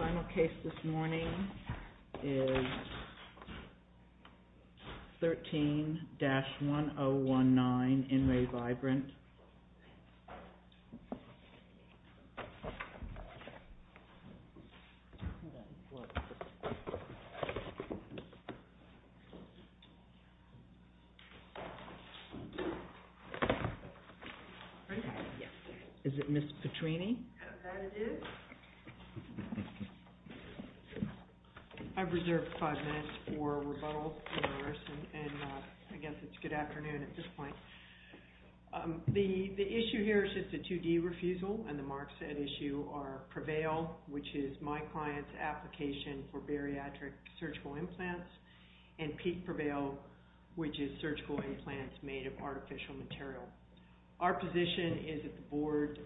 The final case this morning is 13-1019, IN RE VIBRYNT. I've reserved five minutes for rebuttals and I guess it's good afternoon at this point. The issue here is just a 2D refusal and the marks set issue are Prevail, which is my client's application for bariatric surgical implants, and Peak Prevail, which is surgical implants made of artificial material. Our position is that the board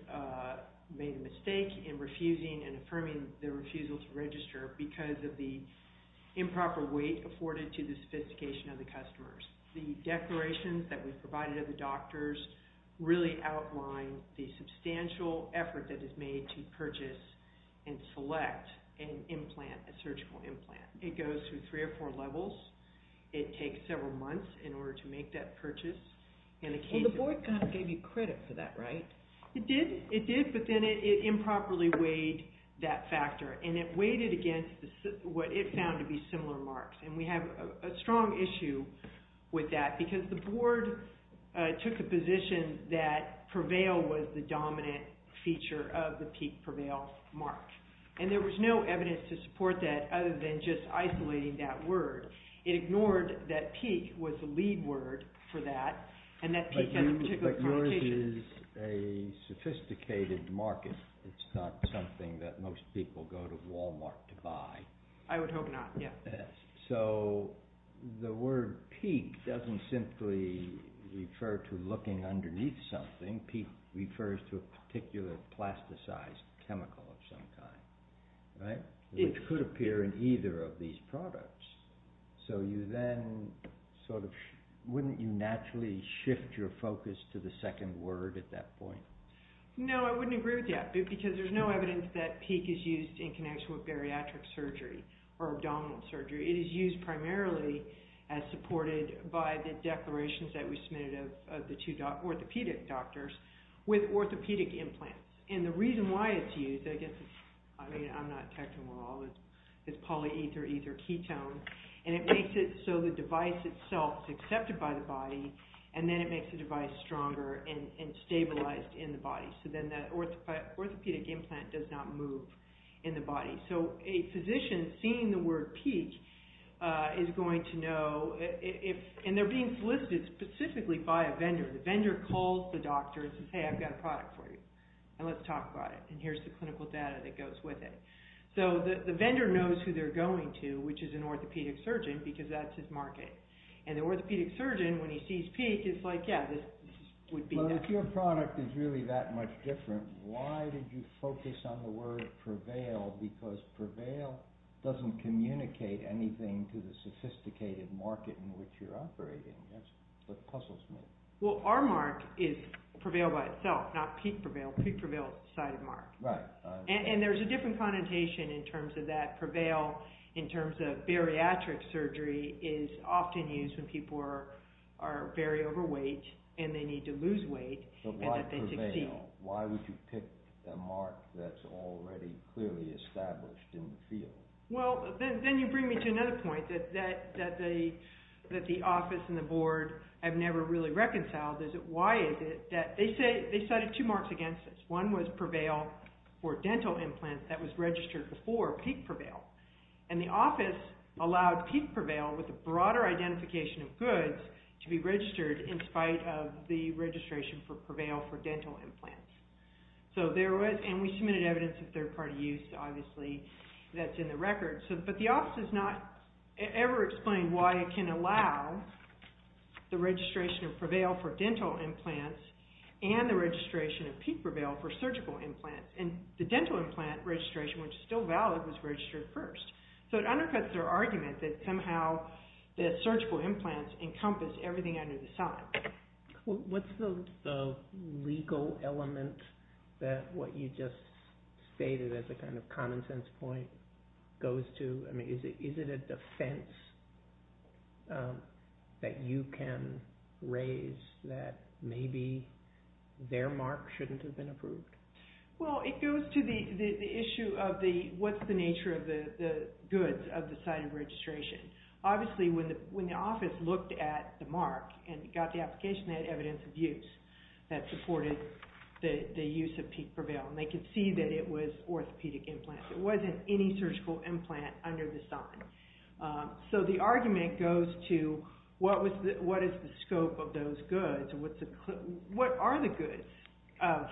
made a mistake in refusing and affirming the refusal to register because of the improper weight afforded to the sophistication of the customers. The declarations that we provided to the doctors really outline the substantial effort that is made to purchase and select an implant, a surgical implant. It goes through three or four levels. It takes several months in order to make that purchase. And the case... The board kind of gave you credit for that, right? It did. It did, but then it improperly weighed that factor and it weighted against what it found to be similar marks and we have a strong issue with that because the board took a position that Prevail was the dominant feature of the Peak Prevail mark. And there was no evidence to support that other than just isolating that word. It ignored that Peak was the lead word for that and that Peak had a particular connotation. But yours is a sophisticated market. It's not something that most people go to Walmart to buy. I would hope not, yeah. So the word Peak doesn't simply refer to looking underneath something. Peak refers to a particular plasticized chemical of some kind, right? It could appear in either of these products. So you then sort of... Wouldn't you naturally shift your focus to the second word at that point? No, I wouldn't agree with that because there's no evidence that Peak is used in connection with bariatric surgery or abdominal surgery. It is used primarily as supported by the declarations that we submitted of the two orthopedic doctors with orthopedic implants. And the reason why it's used, I guess, I mean, I'm not technical at all, it's polyether ether ketone. And it makes it so the device itself is accepted by the body and then it makes the device stronger and stabilized in the body. So then that orthopedic implant does not move in the body. So a physician seeing the word Peak is going to know if... And they're being solicited specifically by a vendor. The vendor calls the doctor and says, hey, I've got a product for you and let's talk about it. And here's the clinical data that goes with it. So the vendor knows who they're going to, which is an orthopedic surgeon, because that's his market. And the orthopedic surgeon, when he sees Peak, is like, yeah, this would be... Well, if your product is really that much different, why did you focus on the word Prevail? Because Prevail doesn't communicate anything to the sophisticated market in which you're operating. That's what puzzles me. Well, our mark is Prevail by itself, not Peak Prevail. Peak Prevail is the sighted mark. Right. And there's a different connotation in terms of that. So why Prevail? Why would you pick a mark that's already clearly established in the field? Well, then you bring me to another point that the office and the board have never really reconciled. Why is it that they say they cited two marks against this? One was Prevail for dental implants that was registered before Peak Prevail. And the office allowed Peak Prevail with a broader identification of goods to be registered in spite of the registration for Prevail for dental implants. So there was...and we submitted evidence of third-party use, obviously, that's in the record. But the office has not ever explained why it can allow the registration of Prevail for dental implants and the registration of Peak Prevail for surgical implants. And the dental implant registration, which is still valid, was registered first. So it undercuts their argument that somehow the surgical implants encompass everything under the sun. What's the legal element that what you just stated as a kind of common sense point goes to? I mean, is it a defense that you can raise that maybe their mark shouldn't have been approved? Well, it goes to the issue of what's the nature of the goods of the site of registration. Obviously, when the office looked at the mark and got the application, they had evidence of use that supported the use of Peak Prevail. And they could see that it was orthopedic implants. It wasn't any surgical implant under the sun. So the argument goes to what is the scope of those goods? What are the goods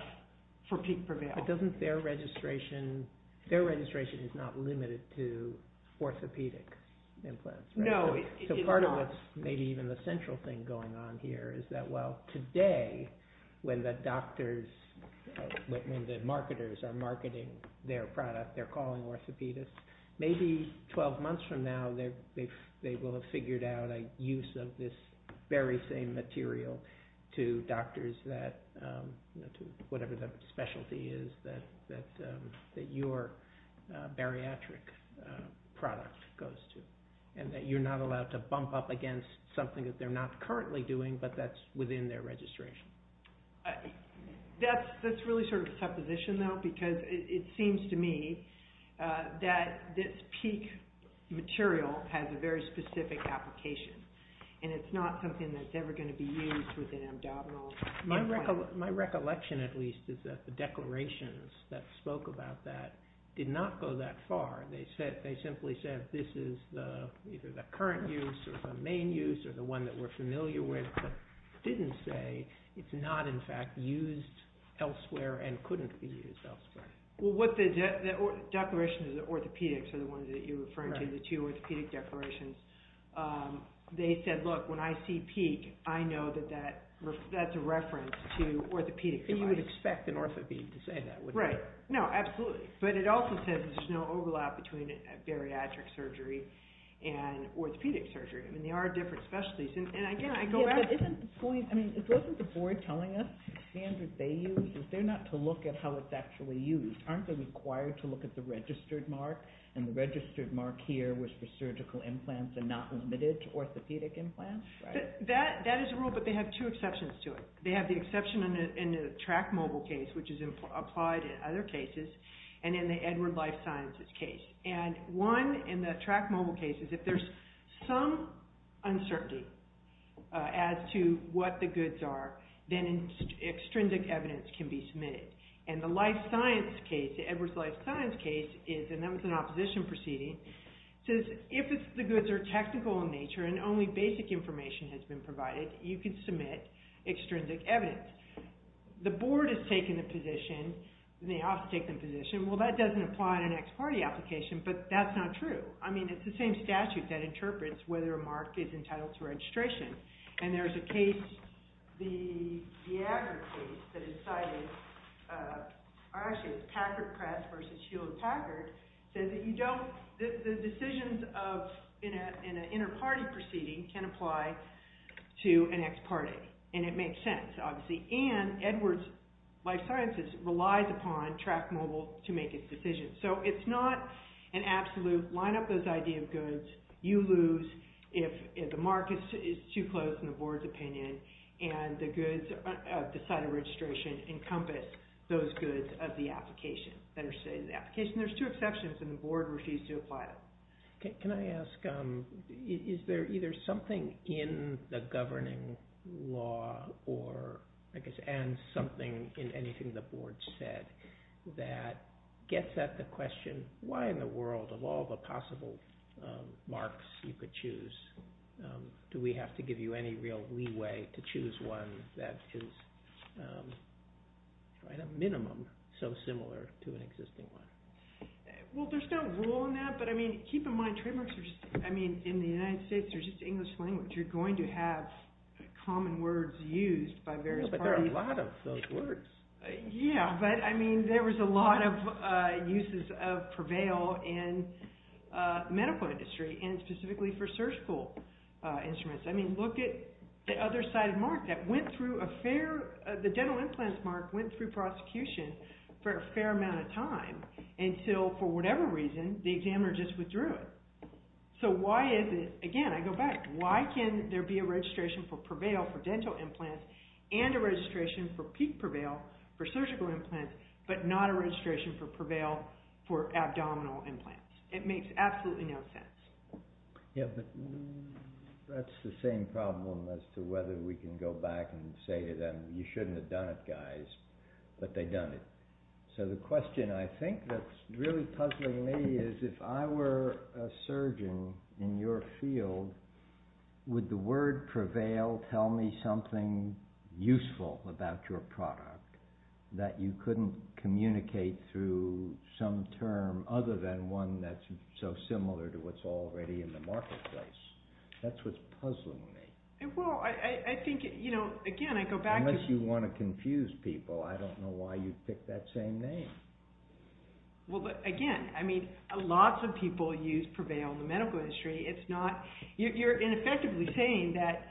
for Peak Prevail? But doesn't their registration, their registration is not limited to orthopedic implants, right? No, it's not. So part of what's maybe even the central thing going on here is that, well, today, when the doctors, when the marketers are marketing their product, they're calling orthopedists, maybe 12 months from now, they will have figured out a use of this very same material to doctors that, you know, to whatever the specialty is that your bariatric product goes to. And that you're not allowed to bump up against something that they're not currently doing, but that's within their registration. That's really sort of supposition, though, because it seems to me that this Peak material has a very specific application. And it's not something that's ever going to be used with an abdominal implant. My recollection, at least, is that the declarations that spoke about that did not go that far. They simply said this is either the current use or the main use or the one that we're familiar with, but didn't say it's not, in fact, used elsewhere and couldn't be used elsewhere. Well, the declarations of the orthopedics are the ones that you're referring to, the two orthopedic declarations. They said, look, when I see Peak, I know that that's a reference to orthopedic devices. You would expect an orthopedic to say that, wouldn't you? Right. No, absolutely. But it also says there's no overlap between a bariatric surgery and orthopedic surgery. I mean, they are different specialties. And, again, I go back... Yeah, but isn't the point... I mean, isn't the board telling us the standard they use? Is there not to look at how it's actually used? Aren't they required to look at the registered mark? And the registered mark here was for surgical implants and not limited to orthopedic implants? That is a rule, but they have two exceptions to it. They have the exception in the TRAC mobile case, which is applied in other cases, and in the Edward Life Sciences case. And one in the TRAC mobile case is if there's some uncertainty as to what the goods are, then extrinsic evidence can be submitted. And the Life Science case, the Edward Life Science case, and that was an opposition proceeding, says if the goods are technical in nature and only basic information has been provided, you can submit extrinsic evidence. The board has taken the position, and they often take the position, well, that doesn't apply in an ex parte application, but that's not true. I mean, it's the same statute that interprets whether a mark is entitled to registration. And there's a case, the Agra case that is cited, or actually it's Packard Press versus Hewlett Packard, says that the decisions in an inter-party proceeding can apply to an ex parte, and it makes sense. And Edward Life Sciences relies upon TRAC mobile to make its decisions. So it's not an absolute line up this idea of goods. You lose if the mark is too close, in the board's opinion, and the goods of the site of registration encompass those goods of the application, that are stated in the application. There's two exceptions, and the board refused to apply them. Can I ask, is there either something in the governing law, or I guess, and something in anything the board said, that gets at the question, why in the world, of all the possible marks you could choose, do we have to give you any real leeway to choose one that is, at a minimum, so similar to an existing one? Well, there's no rule on that, but I mean, keep in mind, trademarks are just, I mean, in the United States, they're just English language. You're going to have common words used by various parties. But there are a lot of those words. Yeah, but I mean, there was a lot of uses of prevail in the medical industry, and specifically for surgical instruments. I mean, look at the other-sided mark that went through a fair, the dental implants mark went through prosecution for a fair amount of time, until, for whatever reason, the examiner just withdrew it. So why is it, again, I go back, why can there be a registration for prevail for dental implants, and a registration for peak prevail for surgical implants, but not a registration for prevail for abdominal implants? It makes absolutely no sense. Yeah, but that's the same problem as to whether we can go back and say to them, you shouldn't have done it, guys, but they've done it. So the question I think that's really puzzling me is, if I were a surgeon in your field, would the word prevail tell me something useful about your product that you couldn't communicate through some term other than one that's so similar to what's already in the marketplace? That's what's puzzling me. Well, I think, you know, again, I go back to- Unless you want to confuse people, I don't know why you'd pick that same name. Well, again, I mean, lots of people use prevail in the medical industry. It's not, you're ineffectively saying that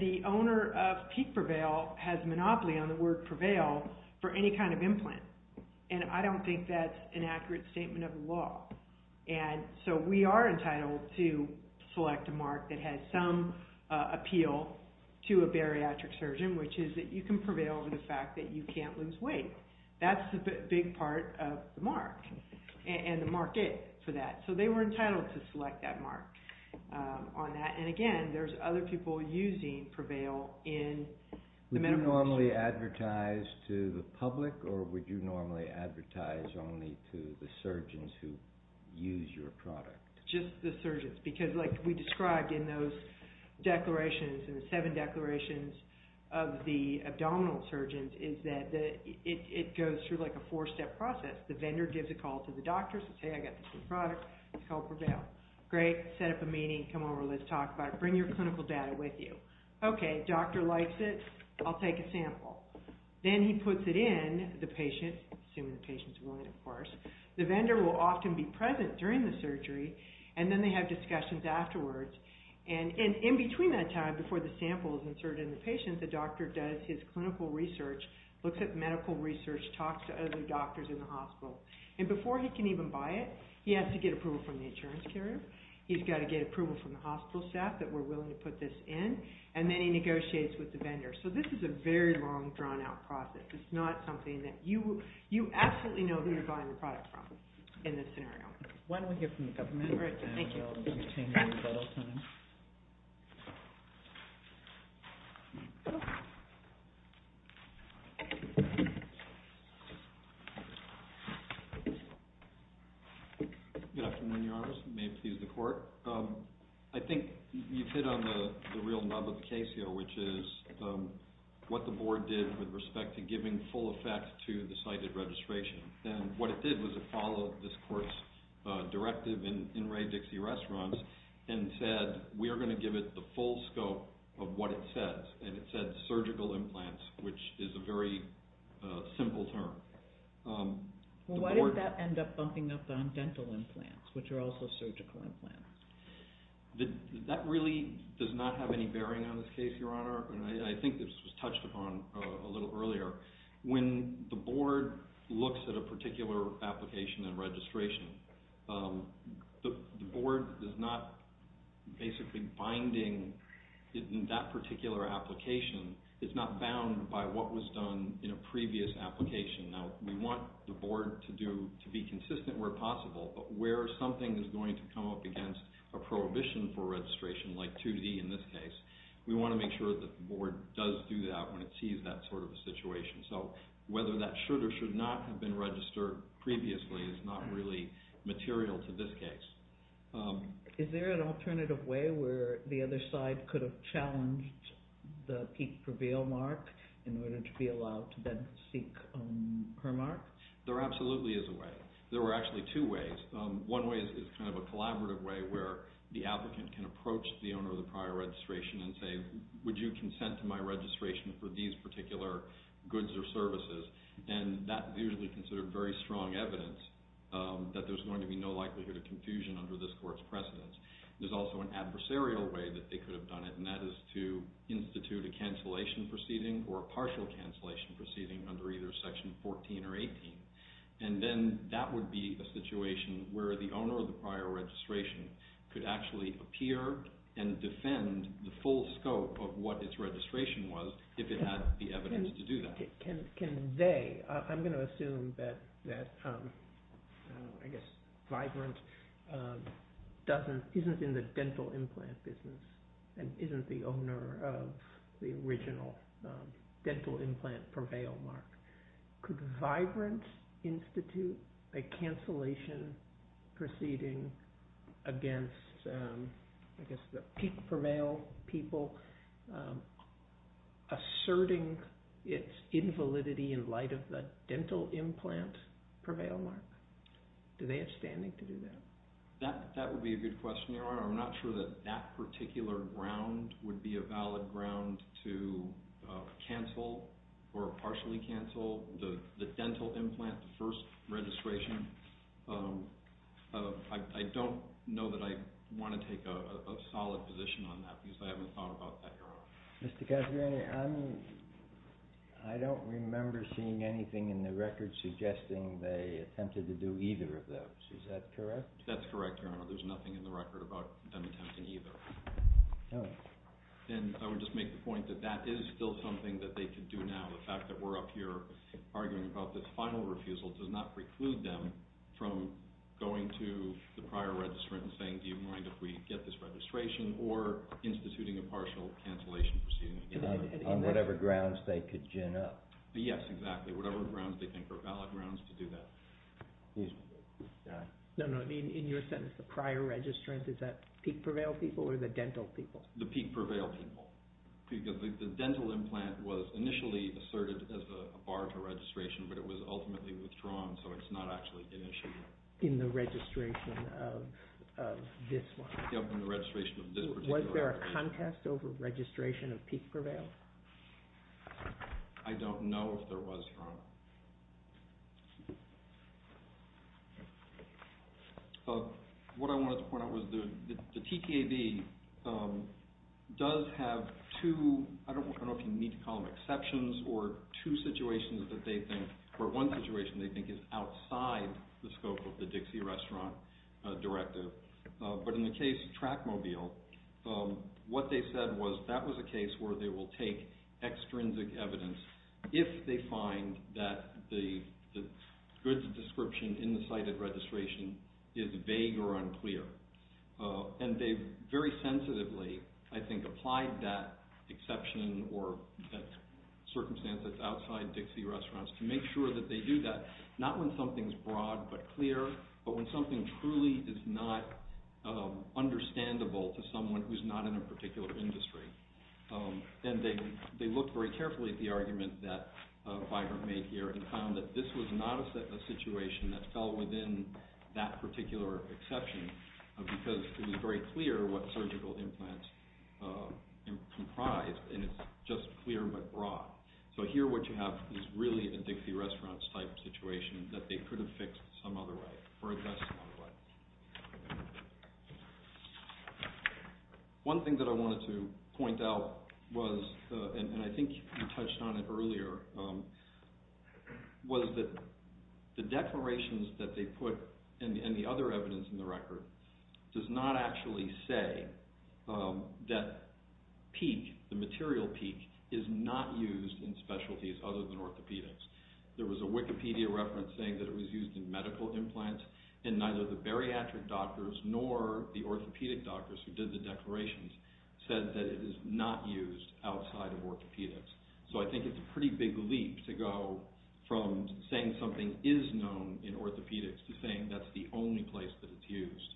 the owner of peak prevail has a monopoly on the word prevail for any kind of implant, and I don't think that's an accurate statement of the law. And so we are entitled to select a mark that has some appeal to a bariatric surgeon, which is that you can prevail for the fact that you can't lose weight. That's a big part of the mark, and the market for that. So they were entitled to select that mark on that. And again, there's other people using prevail in the medical industry. Would you normally advertise to the public, or would you normally advertise only to the surgeons who use your product? Just the surgeons, because like we described in those declarations, in the seven declarations of the abdominal surgeons, is that it goes through like a four-step process. The vendor gives a call to the doctor, says, hey, I got this new product, it's called prevail. Great, set up a meeting, come over, let's talk about it, bring your clinical data with you. Okay, doctor likes it, I'll take a sample. Then he puts it in the patient, assuming the patient's willing, of course. The vendor will often be present during the surgery, and then they have discussions afterwards. And in between that time, before the sample is inserted in the patient, the doctor does his clinical research, looks at medical research, talks to other doctors in the hospital. And before he can even buy it, he has to get approval from the insurance carrier, he's got to get approval from the hospital staff that we're willing to put this in, and then he negotiates with the vendor. So this is a very long, drawn-out process. It's not something that you absolutely know who you're buying the product from in this scenario. Why don't we hear from the government? All right, thank you. Good afternoon, Your Honors. May it please the Court? I think you've hit on the real nub of the case here, which is what the Board did with respect to giving full effect to the cited registration. And what it did was it followed this Court's directive in Ray Dixie Restaurants and said, we are going to give it the full scope of what it says. And it said surgical implants, which is a very simple term. Well, why did that end up bumping up on dental implants, which are also surgical implants? That really does not have any bearing on this case, Your Honor. And I think this was touched upon a little earlier. When the Board looks at a particular application and registration, the Board is not basically binding that particular application. It's not bound by what was done in a previous application. Now, we want the Board to be consistent where possible, but where something is going to come up against a prohibition for registration, like 2D in this case, we want to make sure that the Board does do that when it sees that sort of a situation. So whether that should or should not have been registered previously is not really material to this case. Is there an alternative way where the other side could have challenged the peak prevail mark in order to be allowed to then seek her mark? There absolutely is a way. There are actually two ways. One way is kind of a collaborative way where the applicant can approach the owner of the prior registration and say, would you consent to my registration for these particular goods or services? And that is usually considered very strong evidence that there's going to be no likelihood of confusion under this Court's precedence. There's also an adversarial way that they could have done it, and that is to institute a cancellation proceeding or a partial cancellation proceeding under either Section 14 or 18. And then that would be a situation where the owner of the prior registration could actually appear and defend the full scope of what its registration was if it had the evidence to do that. Can they? I'm going to assume that, I guess, Vibrant isn't in the dental implant business and isn't the owner of the original dental implant prevail mark. Could Vibrant institute a cancellation proceeding against, I guess, the prevail people asserting its invalidity in light of the dental implant prevail mark? Do they have standing to do that? That would be a good question, Your Honor. I'm not sure that that particular ground would be a valid ground to cancel or partially cancel the dental implant, the first registration. I don't know that I want to take a solid position on that because I haven't thought about that, Your Honor. Mr. Cassidy, I don't remember seeing anything in the record suggesting they attempted to do either of those. Is that correct? That's correct, Your Honor. There's nothing in the record about them attempting either. Then I would just make the point that that is still something that they could do now. The fact that we're up here arguing about this final refusal does not preclude them from going to the prior registrant and saying, do you mind if we get this registration or instituting a partial cancellation proceeding against them. On whatever grounds they could gin up. Yes, exactly. Whatever grounds they think are valid grounds to do that. No, no. In your sentence, the prior registrant, is that peak prevail people or the dental people? The peak prevail people because the dental implant was initially asserted as a bar to registration, but it was ultimately withdrawn, so it's not actually an issue. In the registration of this one? Yes, in the registration of this particular one. Was there a contest over registration of peak prevail? I don't know if there was, Your Honor. What I wanted to point out was the TKD does have two, I don't know if you need to call them exceptions, or two situations that they think, or one situation they think is outside the scope of the Dixie restaurant directive. But in the case of Trackmobile, what they said was that was a case where they will take extrinsic evidence if they find that the goods description in the cited registration is vague or unclear. And they very sensitively, I think, applied that exception or that circumstance that's outside Dixie restaurants to make sure that they do that, not when something's broad but clear, but when something truly is not understandable to someone who's not in a particular industry. And they looked very carefully at the argument that Vibrant made here and found that this was not a situation that fell within that particular exception because it was very clear what surgical implants comprised, and it's just clear but broad. So here what you have is really a Dixie restaurants type situation that they could have fixed some other way or addressed some other way. One thing that I wanted to point out was, and I think you touched on it earlier, was that the declarations that they put and the other evidence in the record does not actually say that PEAK, the material PEAK, is not used in specialties other than orthopedics. There was a Wikipedia reference saying that it was used in medical implants and neither the bariatric doctors nor the orthopedic doctors who did the declarations said that it is not used outside of orthopedics. So I think it's a pretty big leap to go from saying something is known in orthopedics to saying that's the only place that it's used.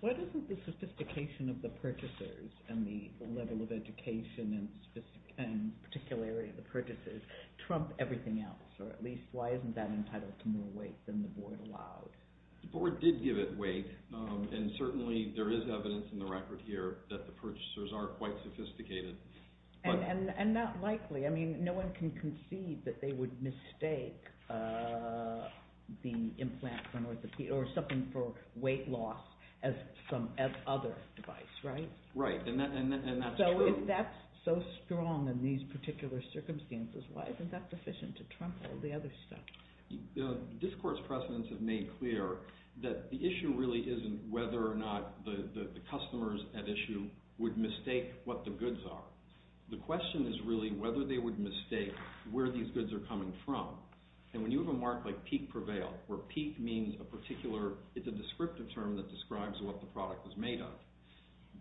Why doesn't the sophistication of the purchasers and the level of education and particularity of the purchasers trump everything else, or at least why isn't that entitled to more weight than the board allowed? The board did give it weight and certainly there is evidence in the record here that the purchasers are quite sophisticated. And not likely, I mean no one can concede that they would mistake the implant or something for weight loss as some other device, right? Right, and that's true. What's wrong in these particular circumstances? Why isn't that sufficient to trump all the other stuff? The discourse precedents have made clear that the issue really isn't whether or not the customers at issue would mistake what the goods are. The question is really whether they would mistake where these goods are coming from. And when you have a mark like PEAK prevail, where PEAK means a particular, it's a descriptive term that describes what the product is made of,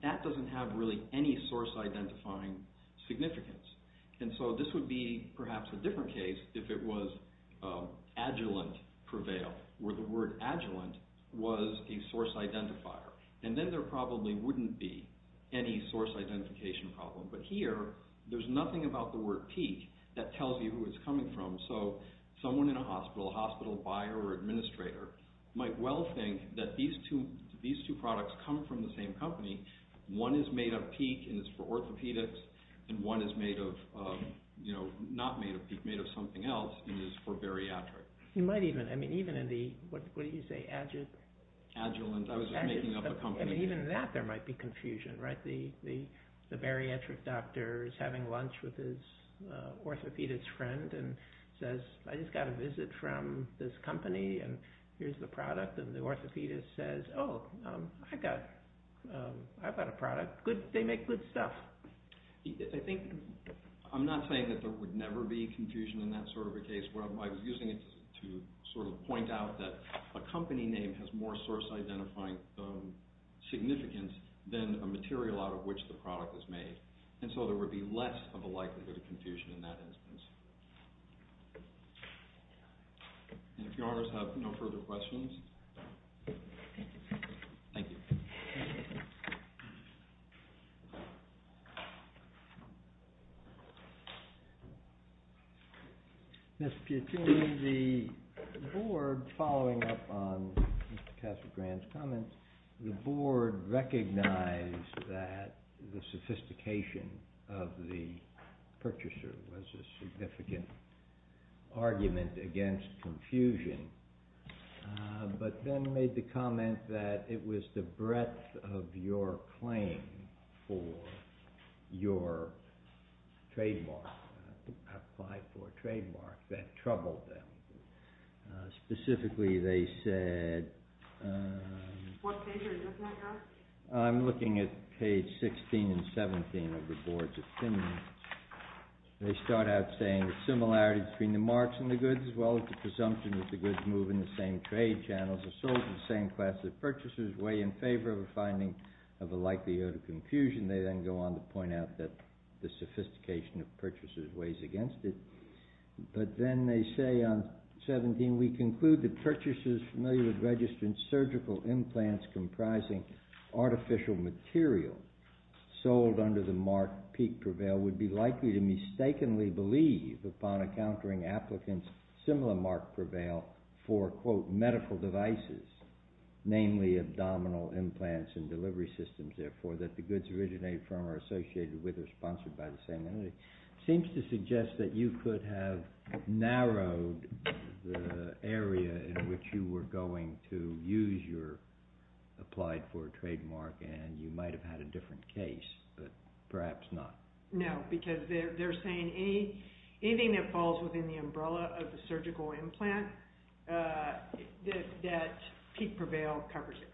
that doesn't have really any source identifying significance. And so this would be perhaps a different case if it was Agilent prevail, where the word Agilent was a source identifier. And then there probably wouldn't be any source identification problem. But here, there's nothing about the word PEAK that tells you who it's coming from. might well think that these two products come from the same company. One is made of PEAK and it's for orthopedics, and one is made of, you know, not made of PEAK, made of something else, and it's for bariatric. You might even, I mean, even in the, what did you say, Agilent? Agilent, I was just making up a company name. I mean, even in that there might be confusion, right? The bariatric doctor is having lunch with his orthopedics friend and says, I just got a visit from this company and here's the product. And the orthopedist says, oh, I've got a product. They make good stuff. I think, I'm not saying that there would never be confusion in that sort of a case. I'm using it to sort of point out that a company name has more source identifying significance than a material out of which the product is made. And so there would be less of a likelihood of confusion in that instance. And if your honors have no further questions. Thank you. Ms. Piattini, the board following up on Mr. Casagrande's comments, the board recognized that the sophistication of the purchaser was a significant argument against confusion, but then made the comment that it was the breadth of your claim for your trademark, applied for a trademark, that troubled them. Specifically, they said, I'm looking at page 16 and 17 of the board's opinion. They start out saying the similarity between the marks and the goods, as well as the presumption that the goods move in the same trade channels, are sold to the same class of purchasers, weigh in favor of a finding of a likelihood of confusion. They then go on to point out that the sophistication of purchasers weighs against it. But then they say on 17, we conclude that purchasers familiar with registered surgical implants comprising artificial material sold under the mark peak prevail would be likely to mistakenly believe, upon encountering applicants similar mark prevail for, quote, medical devices, namely abdominal implants and delivery systems, therefore, that the goods originate from or are associated with or are sponsored by the same entity. Seems to suggest that you could have narrowed the area in which you were going to use your applied for a trademark and you might have had a different case, but perhaps not. No, because they're saying anything that falls within the umbrella of the surgical implant that peak prevail covers it.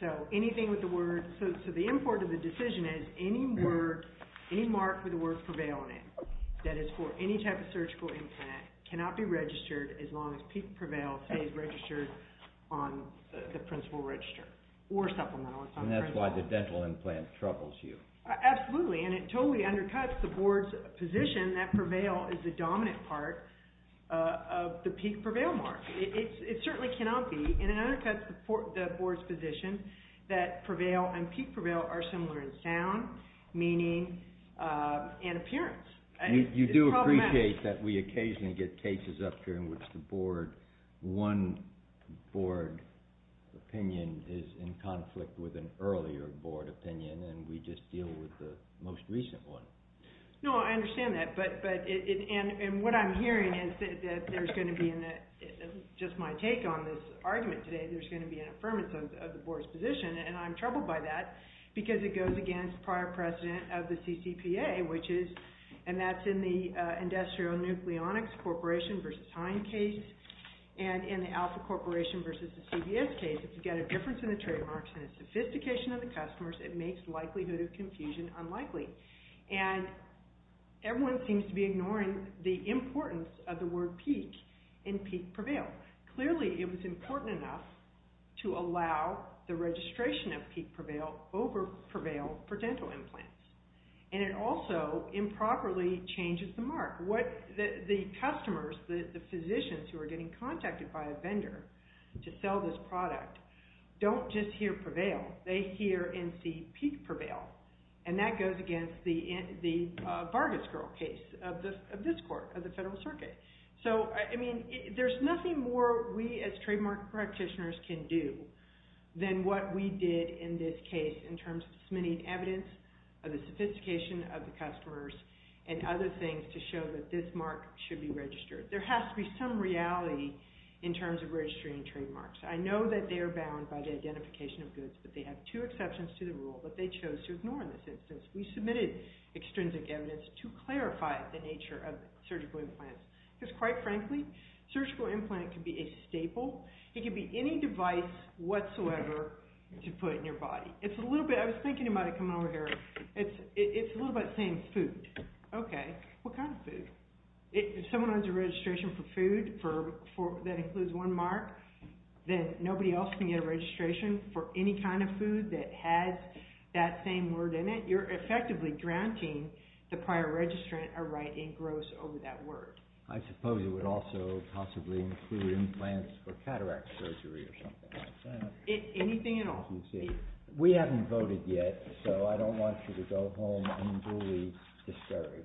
So anything with the word, so the import of the decision is any word, any mark with the word prevail in it that is for any type of surgical implant cannot be registered as long as peak prevail stays registered on the principal register or supplemental. And that's why the dental implant troubles you. Absolutely, and it totally undercuts the board's position that prevail is the dominant part of the peak prevail mark. It certainly cannot be. And it undercuts the board's position that prevail and peak prevail are similar in sound, meaning, and appearance. You do appreciate that we occasionally get cases up here in which the board, one board opinion is in conflict with an earlier board opinion and we just deal with the most recent one. No, I understand that, and what I'm hearing is that there's going to be, just my take on this argument today, there's going to be an affirmance of the board's position, and I'm troubled by that because it goes against prior precedent of the CCPA, which is, and that's in the Industrial Nucleonics Corporation versus Hine case, and in the Alpha Corporation versus the CBS case. If you get a difference in the trademarks and a sophistication of the customers, it makes likelihood of confusion unlikely. And everyone seems to be ignoring the importance of the word peak and peak prevail. Clearly, it was important enough to allow the registration of peak prevail over prevail for dental implants. And it also improperly changes the mark. The customers, the physicians who are getting contacted by a vendor to sell this product, don't just hear prevail. They hear and see peak prevail, and that goes against the Vargas Girl case of this court, of the Federal Circuit. So, I mean, there's nothing more we as trademark practitioners can do than what we did in this case in terms of submitting evidence of the sophistication of the customers and other things to show that this mark should be registered. There has to be some reality in terms of registering trademarks. I know that they are bound by the identification of goods, but they have two exceptions to the rule that they chose to ignore in this instance. We submitted extrinsic evidence to clarify the nature of surgical implants because, quite frankly, a surgical implant can be a staple. It can be any device whatsoever to put in your body. It's a little bit, I was thinking about it coming over here, it's a little bit about saying food. Okay, what kind of food? If someone has a registration for food that includes one mark, then nobody else can get a registration for any kind of food that has that same word in it. You're effectively granting the prior registrant a right in gross over that word. I suppose it would also possibly include implants for cataract surgery or something like that. Anything at all. We haven't voted yet, so I don't want you to go home unduly discouraged.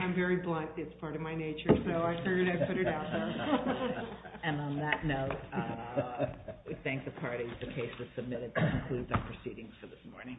I'm very blunt. It's part of my nature, so I figured I'd put it out there. And on that note, we thank the parties the case was submitted that concludes our proceedings for this morning.